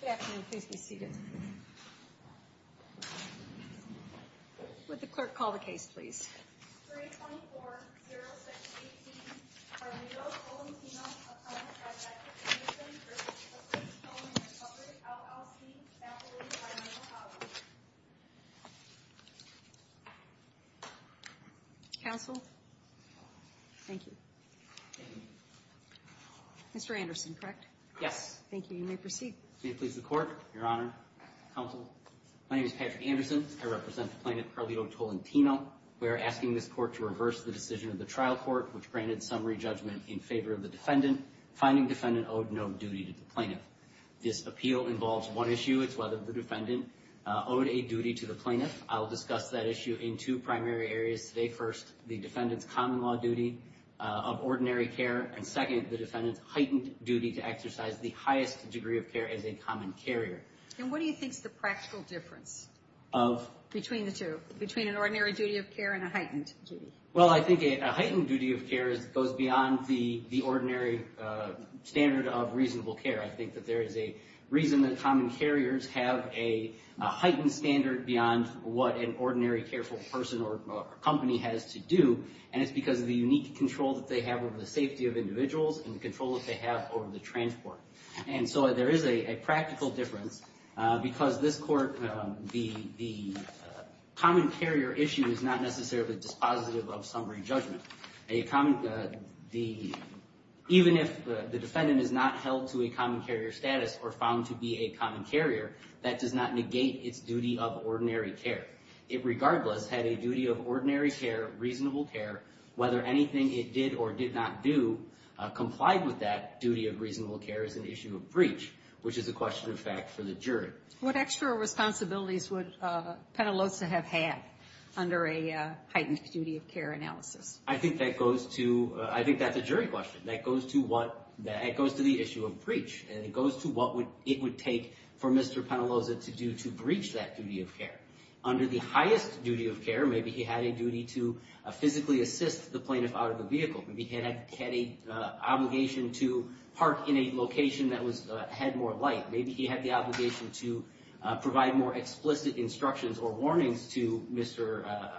Good afternoon, please be seated. Would the clerk call the case, please? 324-0618, Armando Colentino v. Clifford's Towing & Recovery, LLC, faculty, by Michael Allen. Counsel? Thank you. Mr. Anderson, correct? Yes. Thank you. You may proceed. May it please the Court, Your Honor, Counsel? My name is Patrick Anderson. I represent the plaintiff, Carly O. Tolentino. We are asking this court to reverse the decision of the trial court which granted summary judgment in favor of the defendant. Finding defendant owed no duty to the plaintiff. This appeal involves one issue. It's whether the defendant owed a duty to the plaintiff. I'll discuss that issue in two primary areas today. First, the defendant's common law duty of ordinary care. And second, the defendant's heightened duty to exercise the highest degree of care as a common carrier. And what do you think is the practical difference between the two, between an ordinary duty of care and a heightened duty? Well, I think a heightened duty of care goes beyond the ordinary standard of reasonable care. I think that there is a reason that common carriers have a heightened standard beyond what an ordinary careful person or company has to do. And it's because of the unique control that they have over the safety of individuals and the control that they have over the transport. And so there is a practical difference because this court, the common carrier issue is not necessarily dispositive of summary judgment. Even if the defendant is not held to a common carrier status or found to be a common carrier, that does not negate its duty of ordinary care. It regardless had a duty of ordinary care, reasonable care, whether anything it did or did not do, complied with that duty of reasonable care as an issue of breach, which is a question of fact for the jury. What extra responsibilities would Penaloza have had under a heightened duty of care analysis? I think that goes to, I think that's a jury question. That goes to what, that goes to the issue of breach. And it goes to what it would take for Mr. Penaloza to do to breach that duty of care. Under the highest duty of care, maybe he had a duty to physically assist the plaintiff out of the vehicle. Maybe he had an obligation to park in a location that had more light. Maybe he had the obligation to provide more explicit instructions or warnings to Mr.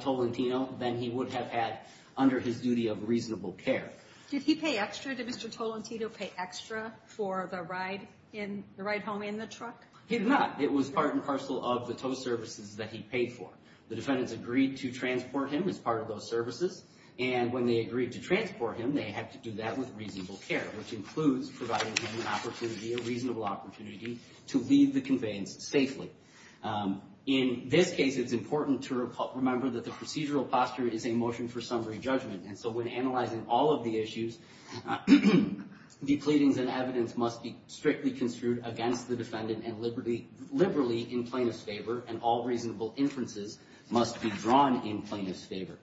Tolentino than he would have had under his duty of reasonable care. Did he pay extra? Did Mr. Tolentino pay extra for the ride in, the ride home in the truck? He did not. It was part and parcel of the tow services that he paid for. The defendants agreed to transport him as part of those services. And when they agreed to transport him, they had to do that with reasonable care, which includes providing him an opportunity, a reasonable opportunity to leave the conveyance safely. In this case, it's important to remember that the procedural posture is a motion for summary judgment. And so when analyzing all of the issues, the pleadings and evidence must be strictly construed against the defendant and liberally in plaintiff's favor. And all reasonable inferences must be drawn in plaintiff's favor.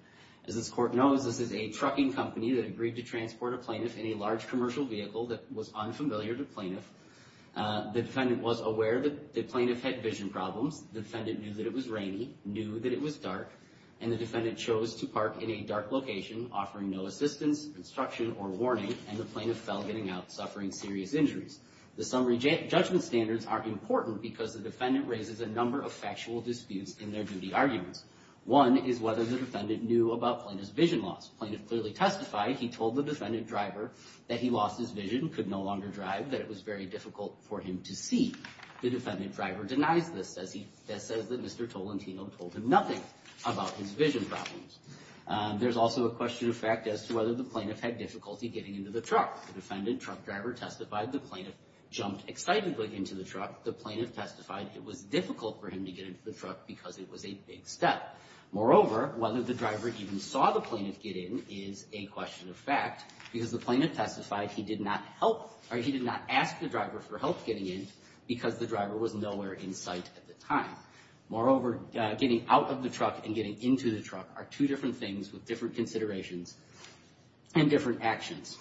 As this court knows, this is a trucking company that agreed to transport a plaintiff in a large commercial vehicle that was unfamiliar to plaintiff. The defendant was aware that the plaintiff had vision problems. The defendant knew that it was rainy, knew that it was dark. And the defendant chose to park in a dark location, offering no assistance, instruction, or warning. And the plaintiff fell getting out, suffering serious injuries. The summary judgment standards are important because the defendant raises a number of factual disputes in their duty arguments. One is whether the defendant knew about plaintiff's vision loss. Plaintiff clearly testified he told the defendant driver that he lost his vision, could no longer drive, that it was very difficult for him to see. The defendant driver denies this, says that Mr. Tolentino told him nothing about his vision problems. There's also a question of fact as to whether the plaintiff had difficulty getting into the truck. The defendant truck driver testified the plaintiff jumped excitedly into the truck. The plaintiff testified it was difficult for him to get into the truck because it was a big step. Moreover, whether the driver even saw the plaintiff get in is a question of fact because the plaintiff testified he did not help, or he did not ask the driver for help getting in because the driver was nowhere in sight at the time. Moreover, getting out of the truck and getting into the truck are two different things with different considerations and different actions.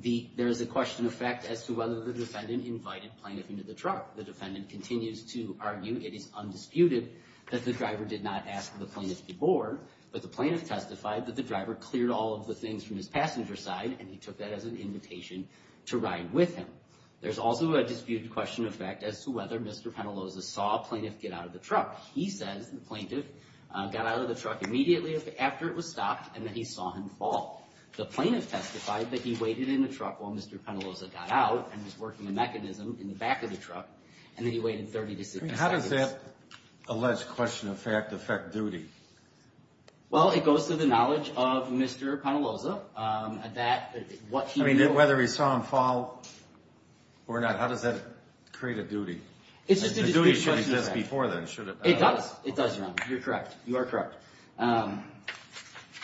There is a question of fact as to whether the defendant invited plaintiff into the truck. The defendant continues to argue it is undisputed that the driver did not ask the plaintiff to board, but the plaintiff testified that the driver cleared all of the things from his passenger side and he took that as an invitation to ride with him. There's also a disputed question of fact as to whether Mr. Penaloza saw plaintiff get out of the truck. He says the plaintiff got out of the truck immediately after it was stopped and that he saw him fall. The plaintiff testified that he waited in the truck while Mr. Penaloza got out and was working a mechanism in the back of the truck, and that he waited 30 to 60 seconds. How does that alleged question of fact affect duty? Well, it goes to the knowledge of Mr. Penaloza that what he knew... I mean, whether he saw him fall or not, how does that create a duty? It's just a disputed question of fact. The duty should exist before then, should it not? It does. It does now. You're correct. You are correct.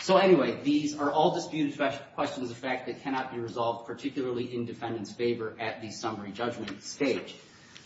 So anyway, these are all disputed questions of fact that cannot be resolved, particularly in defendant's favor at the summary judgment stage.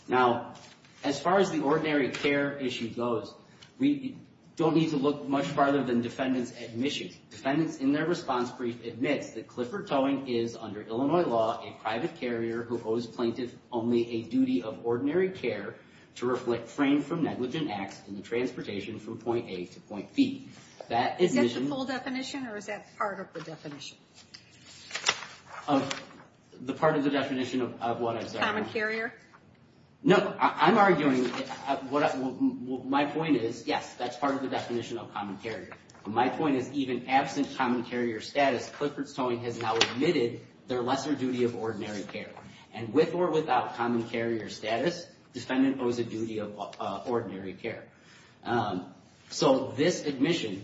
Now, as far as the ordinary care issue goes, we don't need to look much farther than defendants' admissions. Defendants in their response brief admits that Clifford Towing is, under Illinois law, a private carrier who owes plaintiff only a duty of ordinary care to reflect frame from negligent acts in the transportation from point A to point B. Is that the full definition, or is that part of the definition? The part of the definition of what I'm sorry... Common carrier? No, I'm arguing... My point is, yes, that's part of the definition of common carrier. My point is, even absent common carrier status, Clifford Towing has now admitted their lesser duty of ordinary care. And with or without common carrier status, defendant owes a duty of ordinary care. So this admission,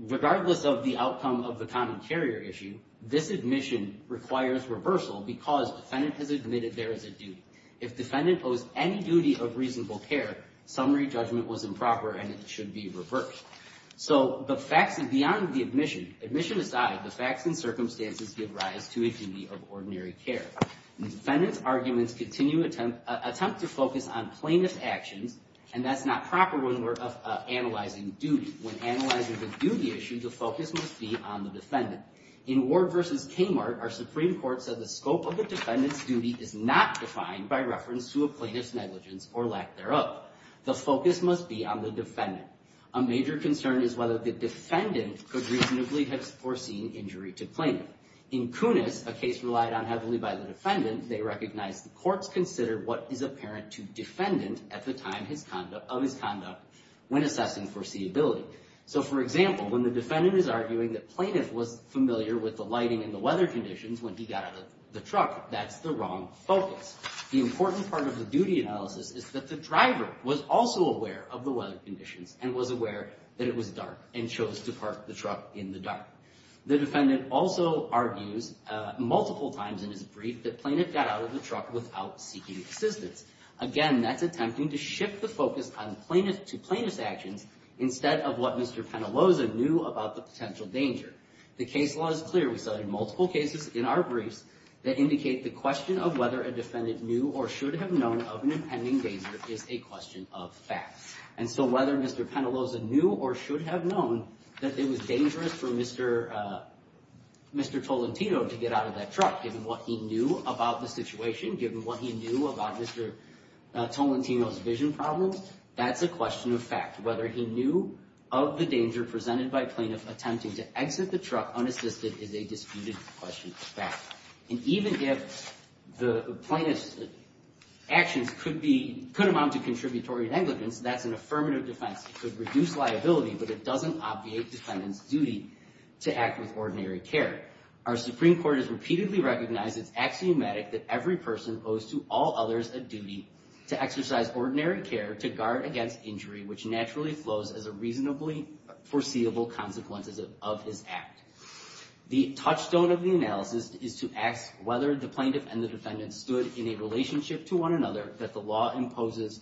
regardless of the outcome of the common carrier issue, this admission requires reversal because defendant has admitted there is a duty. If defendant owes any duty of reasonable care, summary judgment was improper and it should be reversed. So the facts beyond the admission, admission aside, the facts and circumstances give rise to a duty of ordinary care. Defendant's arguments attempt to focus on plaintiff's actions, and that's not proper when we're analyzing duty. When analyzing the duty issue, the focus must be on the defendant. In Ward v. Kmart, our Supreme Court said the scope of the defendant's duty is not defined by reference to a plaintiff's negligence or lack thereof. The focus must be on the defendant. A major concern is whether the defendant could reasonably have foreseen injury to plaintiff. In Kunis, a case relied on heavily by the defendant, they recognized the courts considered what is apparent to defendant at the time of his conduct when assessing foreseeability. So, for example, when the defendant is arguing that plaintiff was familiar with the lighting and the weather conditions when he got out of the truck, that's the wrong focus. The important part of the duty analysis is that the driver was also aware of the weather conditions and was aware that it was dark and chose to park the truck in the dark. The defendant also argues multiple times in his brief that plaintiff got out of the truck without seeking assistance. Again, that's attempting to shift the focus to plaintiff's actions instead of what Mr. Penaloza knew about the potential danger. The case law is clear. We cited multiple cases in our briefs that indicate the question of whether a defendant knew or should have known of an impending danger is a question of fact. And so whether Mr. Penaloza knew or should have known that it was dangerous for Mr. Tolentino to get out of that truck, given what he knew about the situation, given what he knew about Mr. Tolentino's vision problems, that's a question of fact. Whether he knew of the danger presented by plaintiff attempting to exit the truck unassisted is a disputed question of fact. And even if the plaintiff's actions could amount to contributory negligence, that's an affirmative defense. It could reduce liability, but it doesn't obviate defendant's duty to act with ordinary care. Our Supreme Court has repeatedly recognized it's axiomatic that every person owes to all others a duty to exercise ordinary care, to guard against injury, which naturally flows as a reasonably foreseeable consequence of his act. The touchstone of the analysis is to ask whether the plaintiff and the defendant stood in a relationship to one another that the law imposes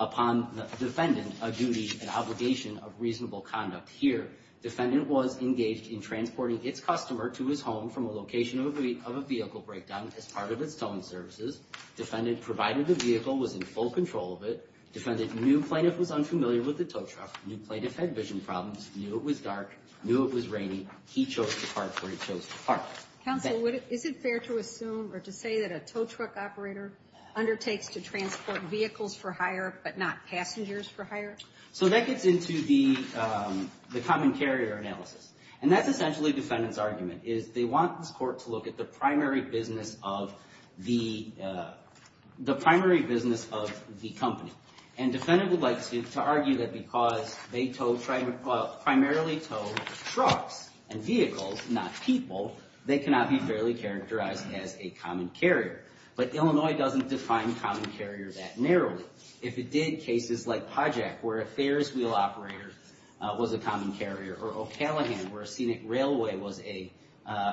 upon the defendant a duty, an obligation of reasonable conduct. Here, defendant was engaged in transporting its customer to his home from a location of a vehicle breakdown as part of its towing services. Defendant provided the vehicle, was in full control of it. Defendant knew plaintiff was unfamiliar with the tow truck, knew plaintiff had vision problems, knew it was dark, knew it was raining. He chose to park where he chose to park. Counsel, is it fair to assume or to say that a tow truck operator undertakes to transport vehicles for hire but not passengers for hire? So that gets into the common carrier analysis. And that's essentially defendant's argument, is they want this court to look at the primary business of the company. And defendant would like to argue that because they primarily tow trucks and vehicles, not people, they cannot be fairly characterized as a common carrier. But Illinois doesn't define common carrier that narrowly. If it did, cases like Pajak, where a Ferris wheel operator was a common carrier, or O'Callaghan, where a scenic railway was a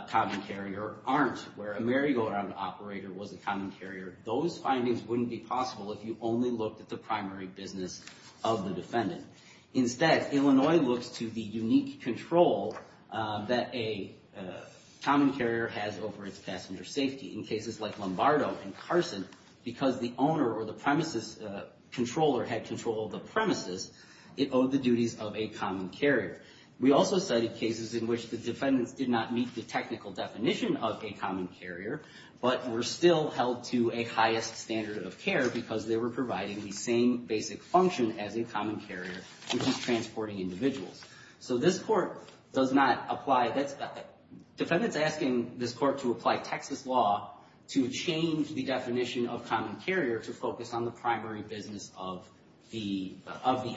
common carrier, or Arnt, where a merry-go-round operator was a common carrier, those findings wouldn't be possible if you only looked at the primary business of the defendant. Instead, Illinois looks to the unique control that a common carrier has over its passenger safety. In cases like Lombardo and Carson, because the owner or the premises controller had control of the premises, it owed the duties of a common carrier. We also cited cases in which the defendants did not meet the technical definition of a common carrier, but were still held to a highest standard of care because they were providing the same basic function as a common carrier, which is transporting individuals. So this court does not apply. Defendant's asking this court to apply Texas law to change the definition of common carrier to focus on the primary business of the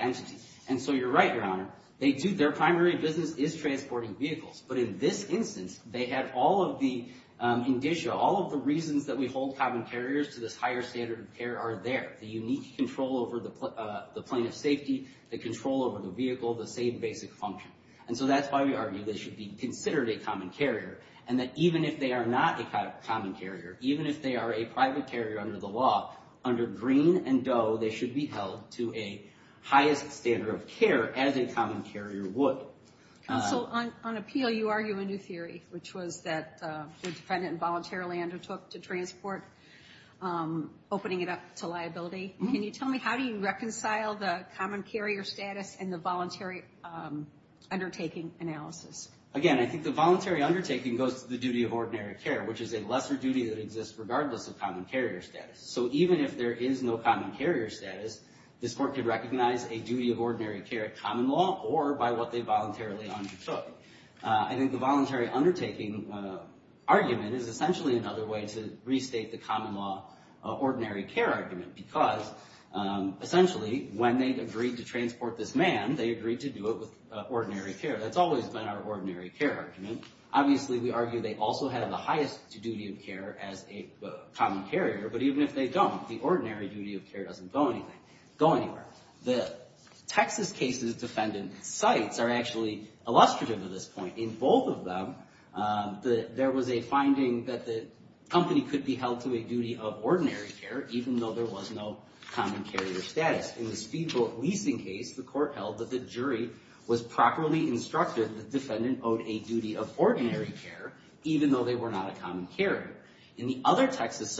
entity. And so you're right, Your Honor. Their primary business is transporting vehicles. But in this instance, they had all of the indicia, all of the reasons that we hold common carriers to this higher standard of care are there. The unique control over the plane of safety, the control over the vehicle, the same basic function. And so that's why we argue they should be considered a common carrier, and that even if they are not a common carrier, even if they are a private carrier under the law, under Green and Doe, they should be held to a highest standard of care as a common carrier would. Counsel, on appeal, you argue a new theory, which was that the defendant voluntarily undertook to transport, opening it up to liability. Can you tell me how do you reconcile the common carrier status and the voluntary undertaking analysis? Again, I think the voluntary undertaking goes to the duty of ordinary care, which is a lesser duty that exists regardless of common carrier status. So even if there is no common carrier status, this court could recognize a duty of ordinary care common law or by what they voluntarily undertook. I think the voluntary undertaking argument is essentially another way to restate the common law ordinary care argument, because essentially when they agreed to transport this man, they agreed to do it with ordinary care. That's always been our ordinary care argument. Obviously, we argue they also have the highest duty of care as a common carrier. But even if they don't, the ordinary duty of care doesn't go anywhere. The Texas case's defendant cites are actually illustrative of this point. In both of them, there was a finding that the company could be held to a duty of ordinary care, even though there was no common carrier status. In the speedboat leasing case, the court held that the jury was properly instructed that the defendant owed a duty of ordinary care, even though they were not a common carrier. In the other Texas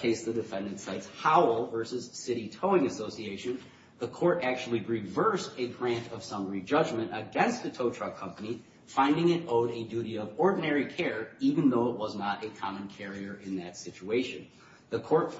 case, the defendant cites Howell versus City Towing Association. The court actually reversed a grant of summary judgment against the tow truck company, finding it owed a duty of ordinary care, even though it was not a common carrier in that situation. The court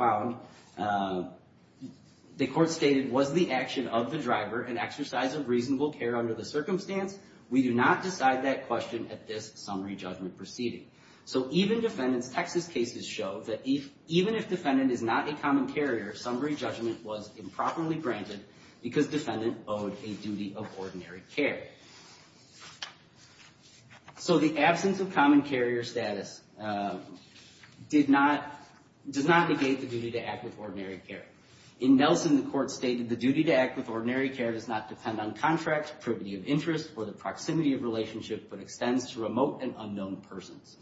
stated, was the action of the driver an exercise of reasonable care under the circumstance? We do not decide that question at this summary judgment proceeding. So even defendants, Texas cases show that even if defendant is not a common carrier, summary judgment was improperly granted because defendant owed a duty of ordinary care. So the absence of common carrier status did not, does not negate the duty to act with ordinary care. In Nelson, the court stated the duty to act with ordinary care does not depend on contract, privity of interest, or the proximity of relationship, but extends to remote and unknown persons.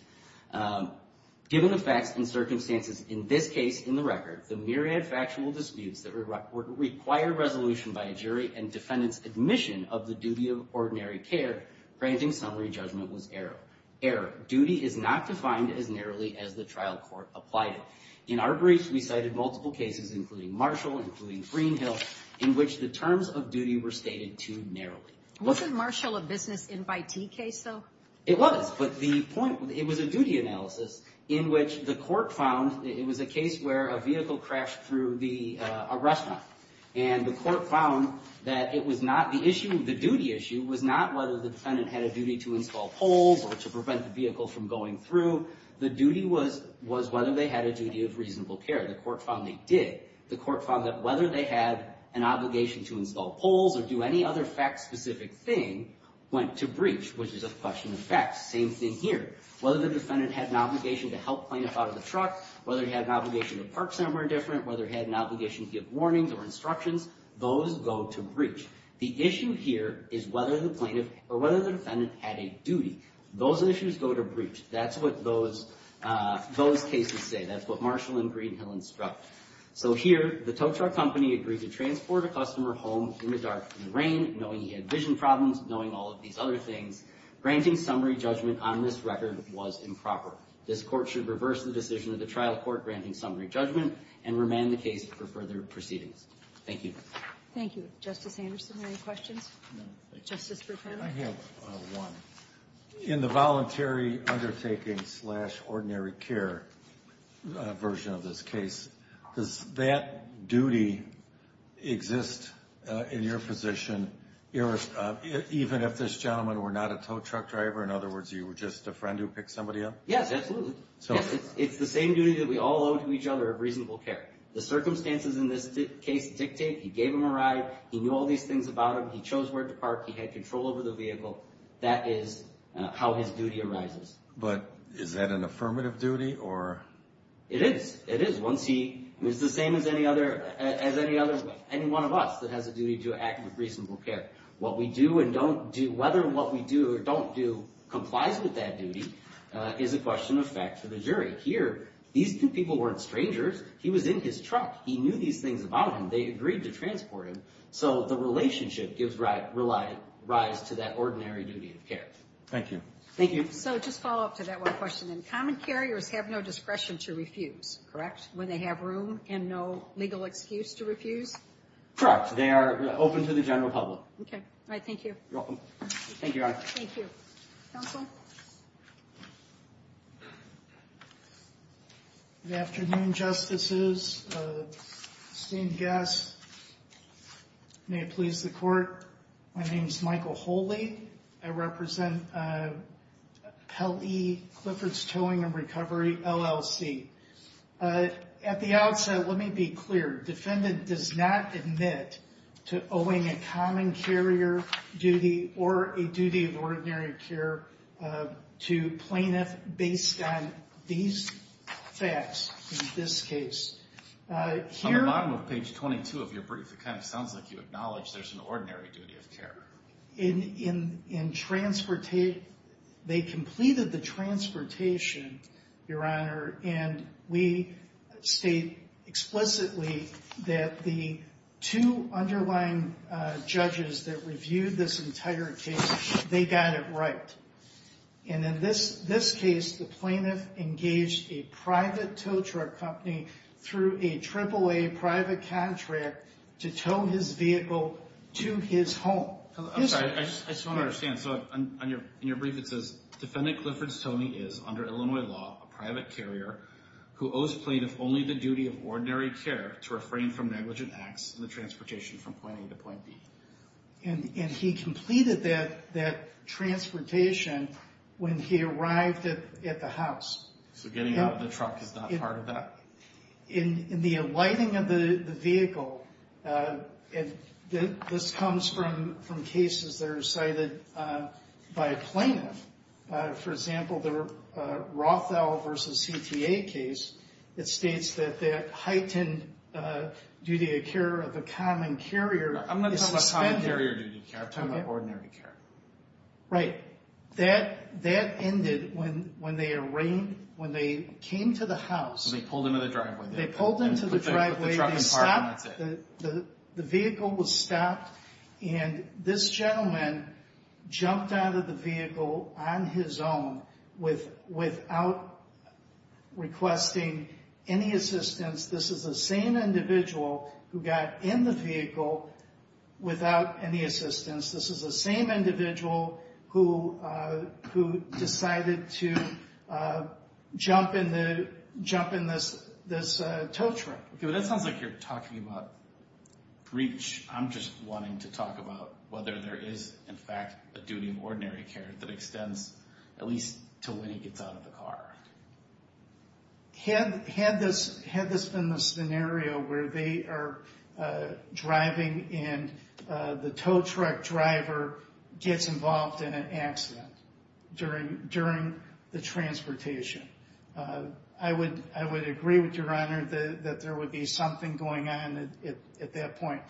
Given the facts and circumstances in this case, in the record, the myriad factual disputes that require resolution by a jury and defendant's admission of the duty of ordinary care granting summary judgment was error. Error. Duty is not defined as narrowly as the trial court applied it. In our briefs, we cited multiple cases, including Marshall, including Greenhill, in which the terms of duty were stated too narrowly. Wasn't Marshall a business invitee case, though? It was, but the point, it was a duty analysis in which the court found it was a case where a vehicle crashed through the restaurant. And the court found that it was not the issue, the duty issue was not whether the defendant had a duty to install poles or to prevent the vehicle from going through. The duty was whether they had a duty of reasonable care. The court found they did. The court found that whether they had an obligation to install poles or do any other fact-specific thing went to breach, which is a question of facts. Same thing here. Whether the defendant had an obligation to help plaintiff out of the truck, whether he had an obligation to park somewhere different, whether he had an obligation to give warnings or instructions, those go to breach. The issue here is whether the plaintiff or whether the defendant had a duty. Those issues go to breach. That's what those cases say. That's what Marshall and Greenhill instruct. So here, the tow truck company agreed to transport a customer home in the dark of the rain, knowing he had vision problems, knowing all of these other things. Granting summary judgment on this record was improper. This court should reverse the decision of the trial court granting summary judgment and remand the case for further proceedings. Thank you. Thank you. Justice Anderson, any questions? No, thank you. Justice Bertano? I have one. In the voluntary undertaking slash ordinary care version of this case, does that duty exist in your position, even if this gentleman were not a tow truck driver? In other words, you were just a friend who picked somebody up? Yes, absolutely. It's the same duty that we all owe to each other of reasonable care. The circumstances in this case dictate he gave them a ride, he knew all these things about them, he chose where to park, he had control over the vehicle. That is how his duty arises. But is that an affirmative duty? It is. It is. It's the same as any one of us that has a duty to act with reasonable care. What we do and don't do, whether what we do or don't do complies with that duty is a question of fact for the jury. Here, these two people weren't strangers. He was in his truck. He knew these things about him. They agreed to transport him. So the relationship gives rise to that ordinary duty of care. Thank you. Thank you. So just follow up to that one question then. Common carriers have no discretion to refuse, correct? When they have room and no legal excuse to refuse? Correct. They are open to the general public. Okay. All right. Thank you. You're welcome. Thank you, Your Honor. Thank you. Counsel? Good afternoon, Justices, esteemed guests. May it please the Court. My name is Michael Holey. I represent Pelley Clifford's Towing and Recovery, LLC. At the outset, let me be clear. Defendant does not admit to owing a common carrier duty or a duty of ordinary care to plaintiff based on these facts in this case. On the bottom of page 22 of your brief, it kind of sounds like you acknowledge there's an ordinary duty of care. They completed the transportation, Your Honor, and we state explicitly that the two underlying judges that reviewed this entire case, they got it right. In this case, the plaintiff engaged a private tow truck company through a AAA private contract to tow his vehicle to his home. I'm sorry. I just don't understand. In your brief, it says, Defendant Clifford's towing is, under Illinois law, a private carrier who owes plaintiff only the duty of ordinary care to refrain from negligent acts in the transportation from point A to point B. And he completed that transportation when he arrived at the house. So getting out of the truck is not part of that? In the lighting of the vehicle, this comes from cases that are cited by a plaintiff. For example, the Rothall v. CTA case, it states that that heightened duty of care of a common carrier I'm not talking about common carrier duty of care. I'm talking about ordinary care. Right. That ended when they came to the house. They pulled into the driveway. They pulled into the driveway. They put the truck in park, and that's it. The vehicle was stopped, and this gentleman jumped out of the vehicle on his own without requesting any assistance. This is the same individual who got in the vehicle without any assistance. This is the same individual who decided to jump in this tow truck. Okay, but that sounds like you're talking about breach. I'm just wanting to talk about whether there is, in fact, a duty of ordinary care that extends at least until when he gets out of the car. Had this been the scenario where they are driving and the tow truck driver gets involved in an accident during the transportation, I would agree with Your Honor that there would be something going on at that point.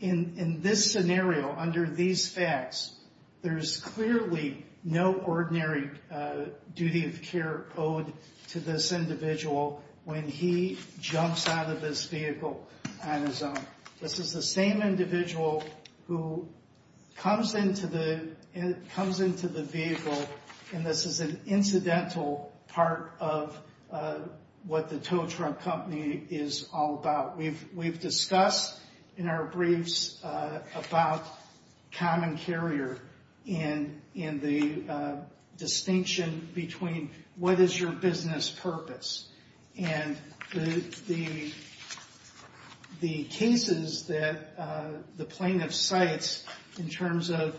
In this scenario, under these facts, there's clearly no ordinary duty of care owed to this individual when he jumps out of this vehicle on his own. This is the same individual who comes into the vehicle, and this is an incidental part of what the tow truck company is all about. We've discussed in our briefs about common carrier and the distinction between what is your business purpose. And the cases that the plaintiff cites in terms of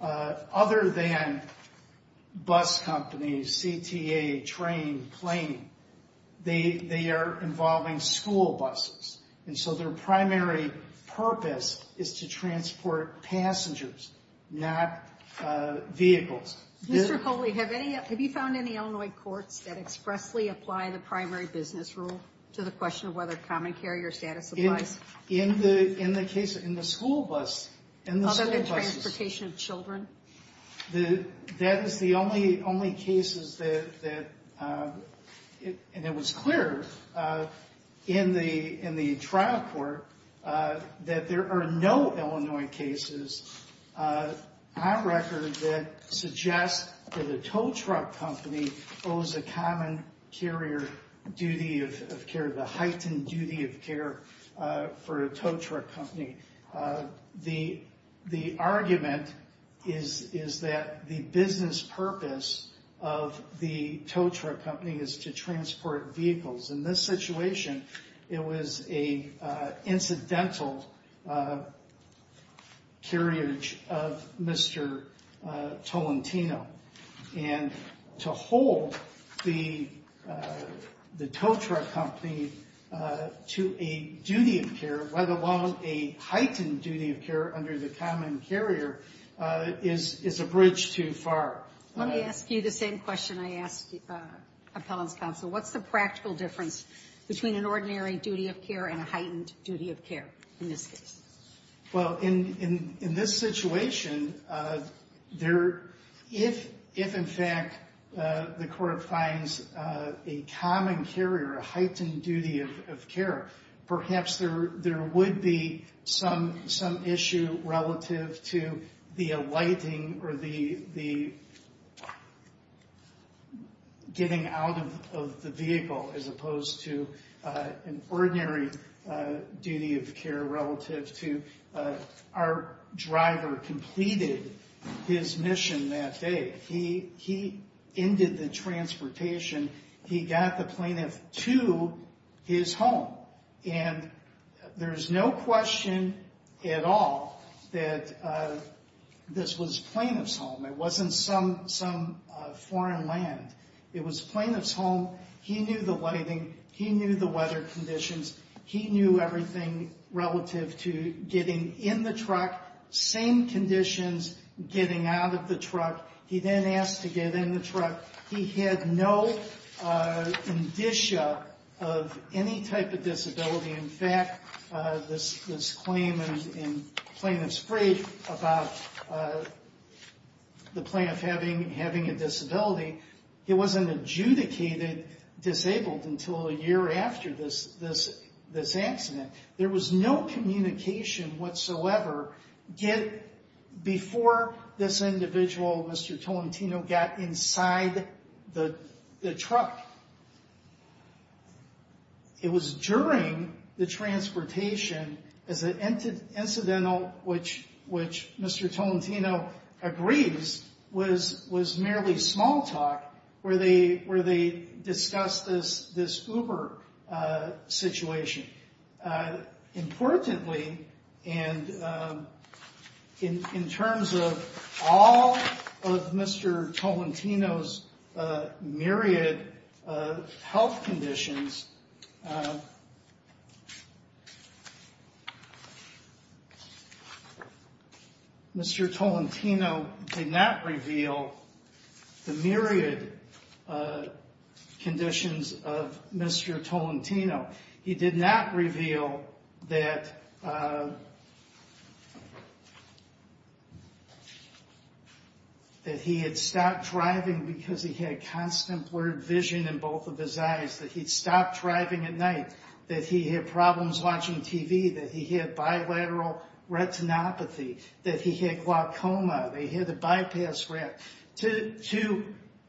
other than bus companies, CTA, train, plane, they are involving school buses. And so their primary purpose is to transport passengers, not vehicles. Mr. Coley, have you found any Illinois courts that expressly apply the primary business rule to the question of whether common carrier status applies? In the case, in the school bus. Other than transportation of children? That is the only cases that, and it was clear in the trial court, that there are no Illinois cases on record that suggest that a tow truck company owes a common carrier duty of care, the heightened duty of care for a tow truck company. The argument is that the business purpose of the tow truck company is to transport vehicles. In this situation, it was an incidental carriage of Mr. Tolentino. And to hold the tow truck company to a duty of care, let alone a heightened duty of care under the common carrier, is a bridge too far. Let me ask you the same question I asked Appellant's counsel. What's the practical difference between an ordinary duty of care and a heightened duty of care in this case? Well, in this situation, if in fact the court finds a common carrier, a heightened duty of care, our driver completed his mission that day. He ended the transportation. He got the plaintiff to his home. And there's no question at all that this was plaintiff's home. It wasn't some foreign land. It was plaintiff's home. He knew the lighting. He knew the weather conditions. He knew everything relative to getting in the truck, same conditions getting out of the truck. He then asked to get in the truck. He had no indicia of any type of disability. In fact, this claim in plaintiff's brief about the plaintiff having a disability, he wasn't adjudicated disabled until a year after this accident. There was no communication whatsoever before this individual, Mr. Tolentino, got inside the truck. It was during the transportation as an incidental, which Mr. Tolentino agrees, was merely small talk where they discussed this Uber situation. Importantly, and in terms of all of Mr. Tolentino's myriad health conditions, Mr. Tolentino did not reveal the myriad conditions of Mr. Tolentino. He did not reveal that he had stopped driving because he had constant blurred vision in both of his eyes, that he'd stopped driving at night, that he had problems watching TV, that he had bilateral retinopathy, that he had glaucoma, that he had a bypass rat. To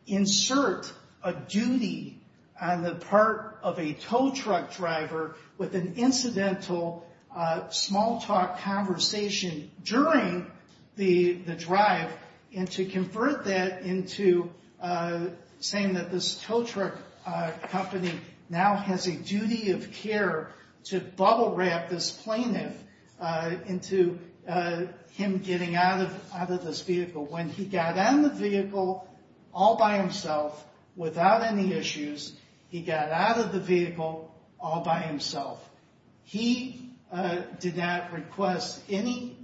insert a duty on the part of a tow truck driver with an incidental small talk conversation during the drive and to convert that into saying that this tow truck company now has a duty of care to bubble wrap this plaintiff into him getting out of this vehicle when he got out of the vehicle all by himself without any issues. He got out of the vehicle all by himself. He did not request any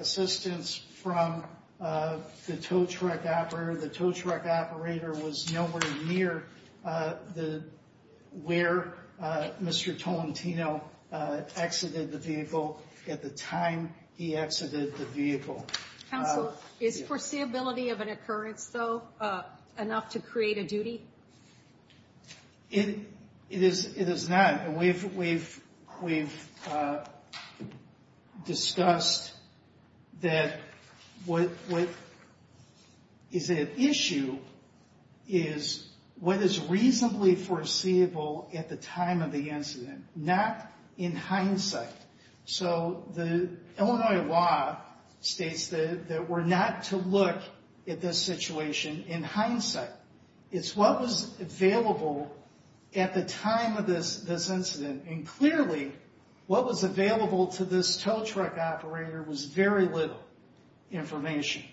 assistance from the tow truck operator. The tow truck operator was nowhere near where Mr. Tolentino exited the vehicle at the time he exited the vehicle. Counsel, is foreseeability of an occurrence, though, enough to create a duty? It is not. And we've discussed that what is at issue is what is reasonably foreseeable at the time of the incident, not in hindsight. So the Illinois law states that we're not to look at this situation in hindsight. It's what was available at the time of this incident, and clearly what was available to this tow truck operator was very little information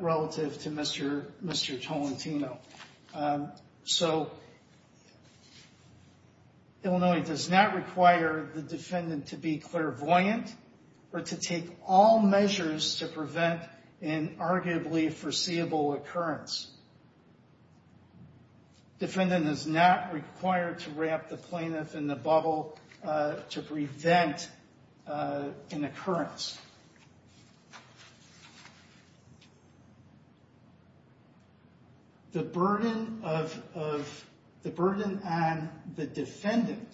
relative to Mr. Tolentino. So Illinois does not require the defendant to be clairvoyant or to take all measures to prevent an arguably foreseeable occurrence. Defendant is not required to wrap the plaintiff in the bubble to prevent an occurrence. The burden on the defendant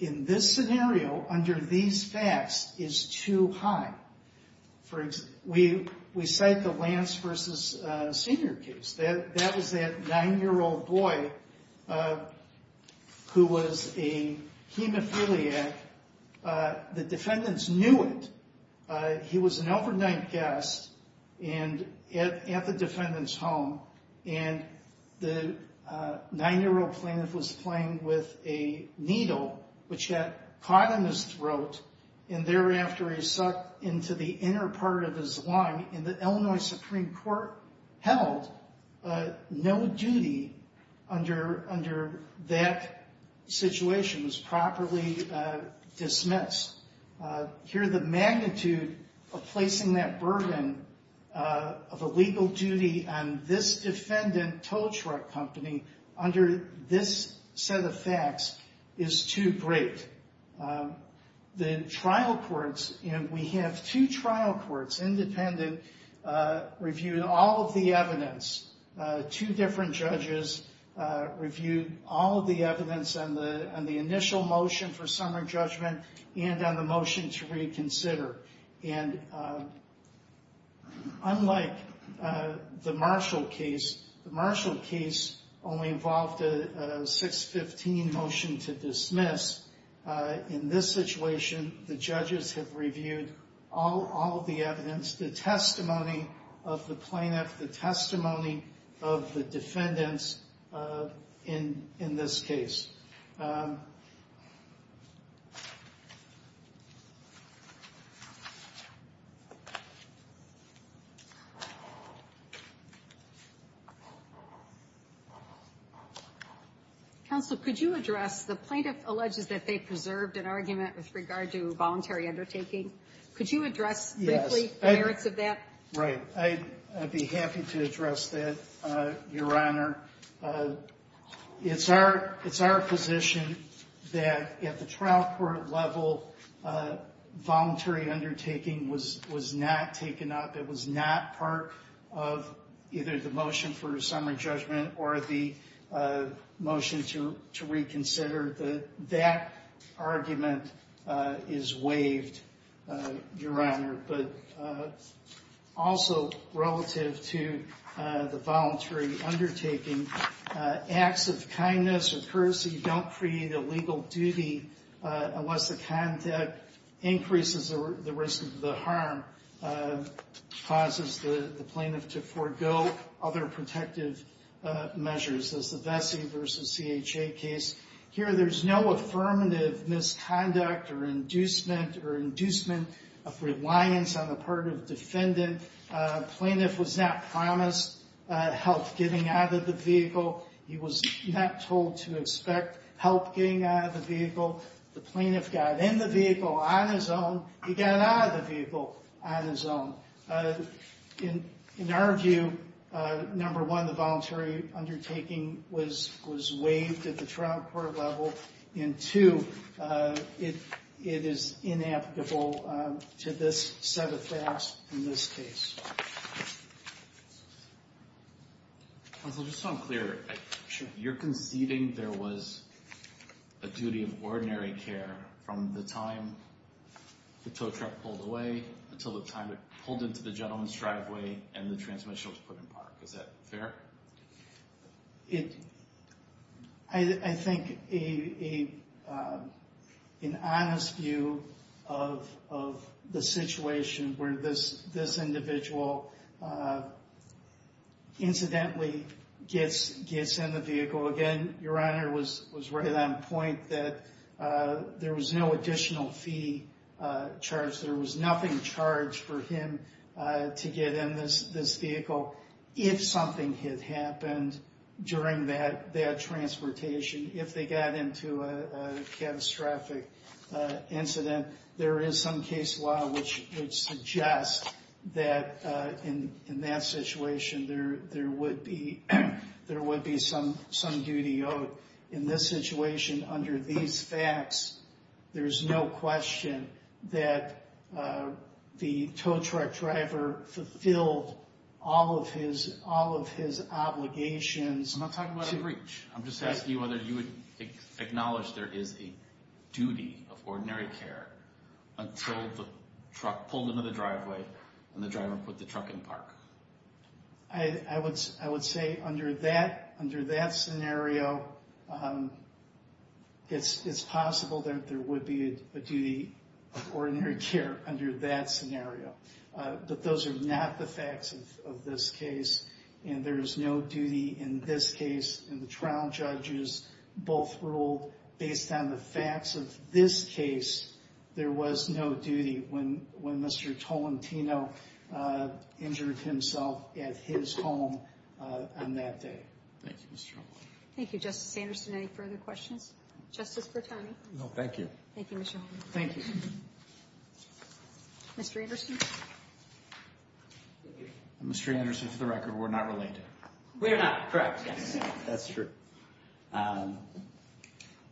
in this scenario under these facts is too high. For example, we cite the Lance v. Senior case. That was that 9-year-old boy who was a hemophiliac. The defendants knew it. He was an overnight guest at the defendant's home, and the 9-year-old plaintiff was playing with a needle which got caught in his throat, and thereafter he sucked into the inner part of his lung, and the Illinois Supreme Court held no duty under that situation. It was properly dismissed. Here the magnitude of placing that burden of a legal duty on this defendant, tow truck company, under this set of facts is too great. The trial courts, and we have two trial courts, independent, reviewed all of the evidence. Two different judges reviewed all of the evidence on the initial motion for summary judgment and on the motion to reconsider. Unlike the Marshall case, the Marshall case only involved a 6-15 motion to dismiss. In this situation, the judges have reviewed all of the evidence, the testimony of the plaintiff, the testimony of the defendants in this case. Counsel, could you address the plaintiff alleges that they preserved an argument with regard to voluntary undertaking? Could you address briefly the merits of that? Right. I'd be happy to address that, Your Honor. It's our position that at the trial court level, voluntary undertaking was not taken up. It was not part of either the motion for summary judgment or the motion to reconsider. That argument is waived, Your Honor. But also relative to the voluntary undertaking, acts of kindness or courtesy don't create a legal duty unless the conduct increases the risk of the harm, causes the plaintiff to forego other protective measures, as the Vesey v. CHA case. Here, there's no affirmative misconduct or inducement of reliance on the part of the defendant. The plaintiff was not promised help getting out of the vehicle. He was not told to expect help getting out of the vehicle. The plaintiff got in the vehicle on his own. He got out of the vehicle on his own. In our view, number one, the voluntary undertaking was waived at the trial court level, and two, it is inapplicable to this set of facts in this case. Counsel, just so I'm clear, you're conceding there was a duty of ordinary care from the time the tow truck pulled away until the time it pulled into the gentleman's driveway and the transmission was put in park. Is that fair? I think an honest view of the situation where this individual incidentally gets in the vehicle, again, Your Honor was right on point that there was no additional fee charged. There was nothing charged for him to get in this vehicle. If something had happened during that transportation, if they got into a catastrophic incident, there is some case law which suggests that in that situation there would be some duty owed. In this situation, under these facts, there's no question that the tow truck driver fulfilled all of his obligations. I'm not talking about a breach. I'm just asking you whether you would acknowledge there is a duty of ordinary care until the truck pulled into the driveway and the driver put the truck in park. I would say under that scenario, it's possible that there would be a duty of ordinary care under that scenario. But those are not the facts of this case and there is no duty in this case. And the trial judges both ruled based on the facts of this case, there was no duty when Mr. Tolentino injured himself at his home on that day. Thank you, Mr. Holman. Thank you, Justice Anderson. Any further questions? Justice Bertoni? No, thank you. Thank you, Mr. Holman. Thank you. Mr. Anderson? Mr. Anderson, for the record, we're not related. We're not. Correct. Yes. That's true.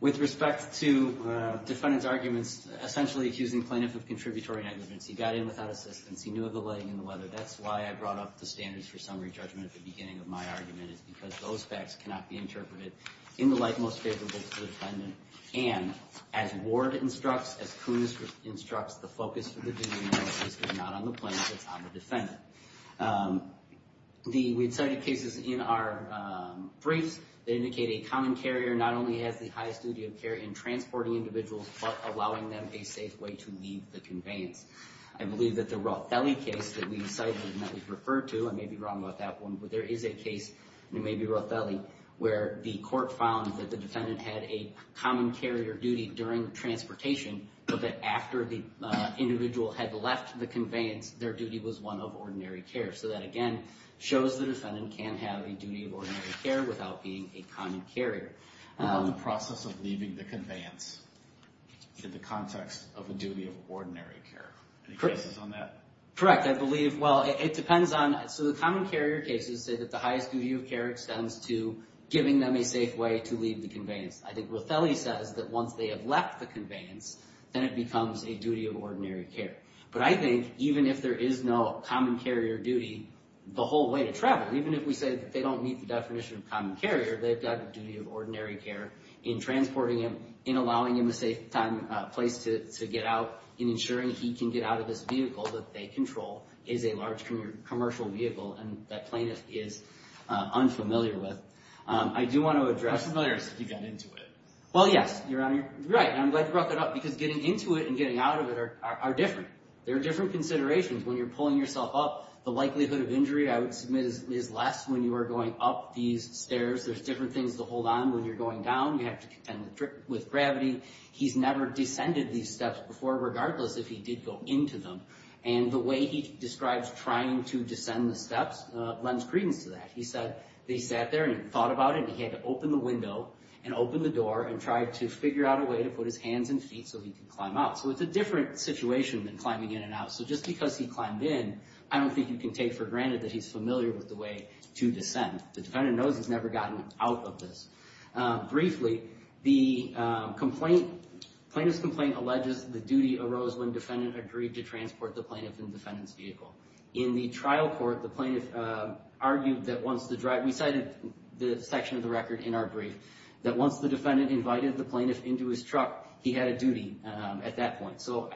With respect to defendant's arguments essentially accusing plaintiff of contributory negligence, he got in without assistance, he knew of the lighting and the weather. That's why I brought up the standards for summary judgment at the beginning of my argument is because those facts cannot be interpreted in the light most favorable to the defendant. And as Ward instructs, as Kunis instructs, the focus of the duty analysis is not on the plaintiff, it's on the defendant. We cited cases in our briefs that indicate a common carrier not only has the highest duty of care in transporting individuals but allowing them a safe way to leave the conveyance. I believe that the Rothelli case that we cited and that we've referred to, I may be wrong about that one, but there is a case, it may be Rothelli, where the court found that the defendant had a common carrier duty during transportation but that after the individual had left the conveyance, their duty was one of ordinary care. So that, again, shows the defendant can have a duty of ordinary care without being a common carrier. What about the process of leaving the conveyance in the context of a duty of ordinary care? Any guesses on that? Correct. I believe, well, it depends on, so the common carrier cases say that the highest duty of care extends to giving them a safe way to leave the conveyance. I think Rothelli says that once they have left the conveyance, then it becomes a duty of ordinary care. But I think even if there is no common carrier duty, the whole way to travel, even if we say that they don't meet the definition of common carrier, they've got a duty of ordinary care in transporting him, in allowing him a safe place to get out, in ensuring he can get out of this vehicle that they control is a large commercial vehicle and that plaintiff is unfamiliar with. I do want to address... How familiar is he to get into it? Well, yes. You're right. I'm glad you brought that up because getting into it and getting out of it are different. There are different considerations when you're pulling yourself up. The likelihood of injury, I would submit, is less when you are going up these stairs. There's different things to hold on when you're going down. You have to contend with gravity. He's never descended these steps before, regardless if he did go into them. And the way he describes trying to descend the steps lends credence to that. He said that he sat there and thought about it, and he had to open the window and open the door and try to figure out a way to put his hands and feet so he could climb out. So it's a different situation than climbing in and out. So just because he climbed in, I don't think you can take for granted that he's familiar with the way to descend. The defendant knows he's never gotten out of this. Briefly, the plaintiff's complaint alleges the duty arose when the defendant agreed to transport the plaintiff in the defendant's vehicle. In the trial court, the plaintiff argued that once the driver—we cited the section of the record in our brief— that once the defendant invited the plaintiff into his truck, he had a duty at that point. So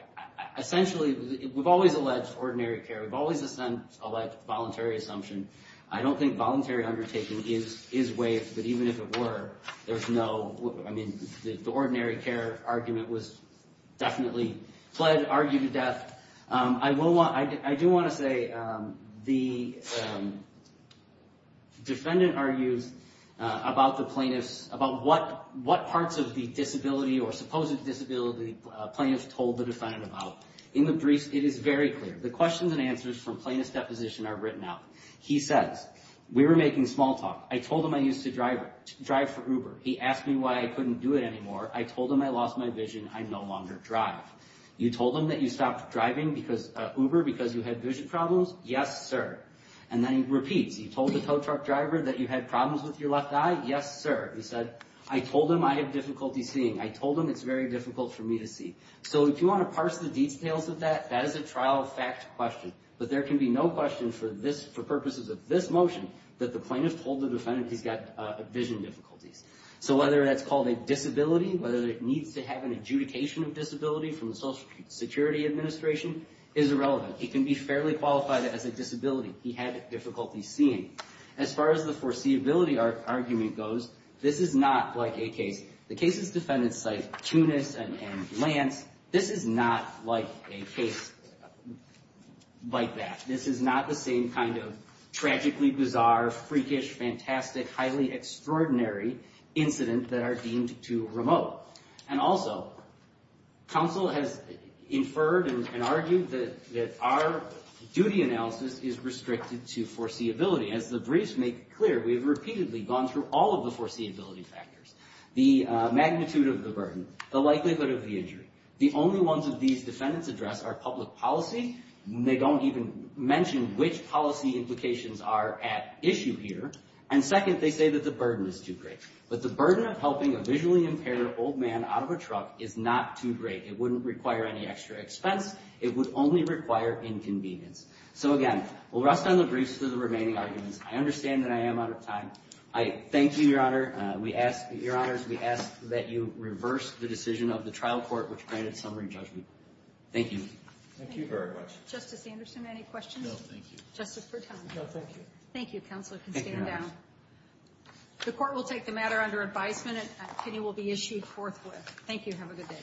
essentially, we've always alleged ordinary care. We've always alleged voluntary assumption. I don't think voluntary undertaking is waived, but even if it were, there's no—I mean, the ordinary care argument was definitely pled, argued to death. I do want to say the defendant argues about the plaintiff's—about what parts of the disability or supposed disability the plaintiff told the defendant about. In the briefs, it is very clear. The questions and answers from plaintiff's deposition are written out. He says, we were making small talk. I told him I used to drive for Uber. He asked me why I couldn't do it anymore. I told him I lost my vision. I no longer drive. You told him that you stopped driving Uber because you had vision problems? Yes, sir. And then he repeats. You told the tow truck driver that you had problems with your left eye? Yes, sir. He said, I told him I have difficulty seeing. I told him it's very difficult for me to see. So if you want to parse the details of that, that is a trial fact question. But there can be no question for this—for purposes of this motion that the plaintiff told the defendant he's got vision difficulties. So whether that's called a disability, whether it needs to have an adjudication of disability from the Social Security Administration is irrelevant. He can be fairly qualified as a disability. He had difficulty seeing. As far as the foreseeability argument goes, this is not like a case—the cases defendants cite Tunis and Lance. This is not like a case like that. This is not the same kind of tragically bizarre, freakish, fantastic, highly extraordinary incident that are deemed too remote. And also, counsel has inferred and argued that our duty analysis is restricted to foreseeability. As the briefs make clear, we've repeatedly gone through all of the foreseeability factors—the magnitude of the burden, the likelihood of the injury. The only ones that these defendants address are public policy. They don't even mention which policy implications are at issue here. And second, they say that the burden is too great. But the burden of helping a visually impaired old man out of a truck is not too great. It wouldn't require any extra expense. It would only require inconvenience. So, again, we'll rest on the briefs for the remaining arguments. I understand that I am out of time. I thank you, Your Honor. We ask—Your Honors, we ask that you reverse the decision of the trial court, which granted summary judgment. Thank you. Thank you very much. Justice Anderson, any questions? No, thank you. Justice Bertoni? No, thank you. Thank you. Counsel can stand down. The court will take the matter under advisement and opinion will be issued forthwith. Thank you. Have a good day.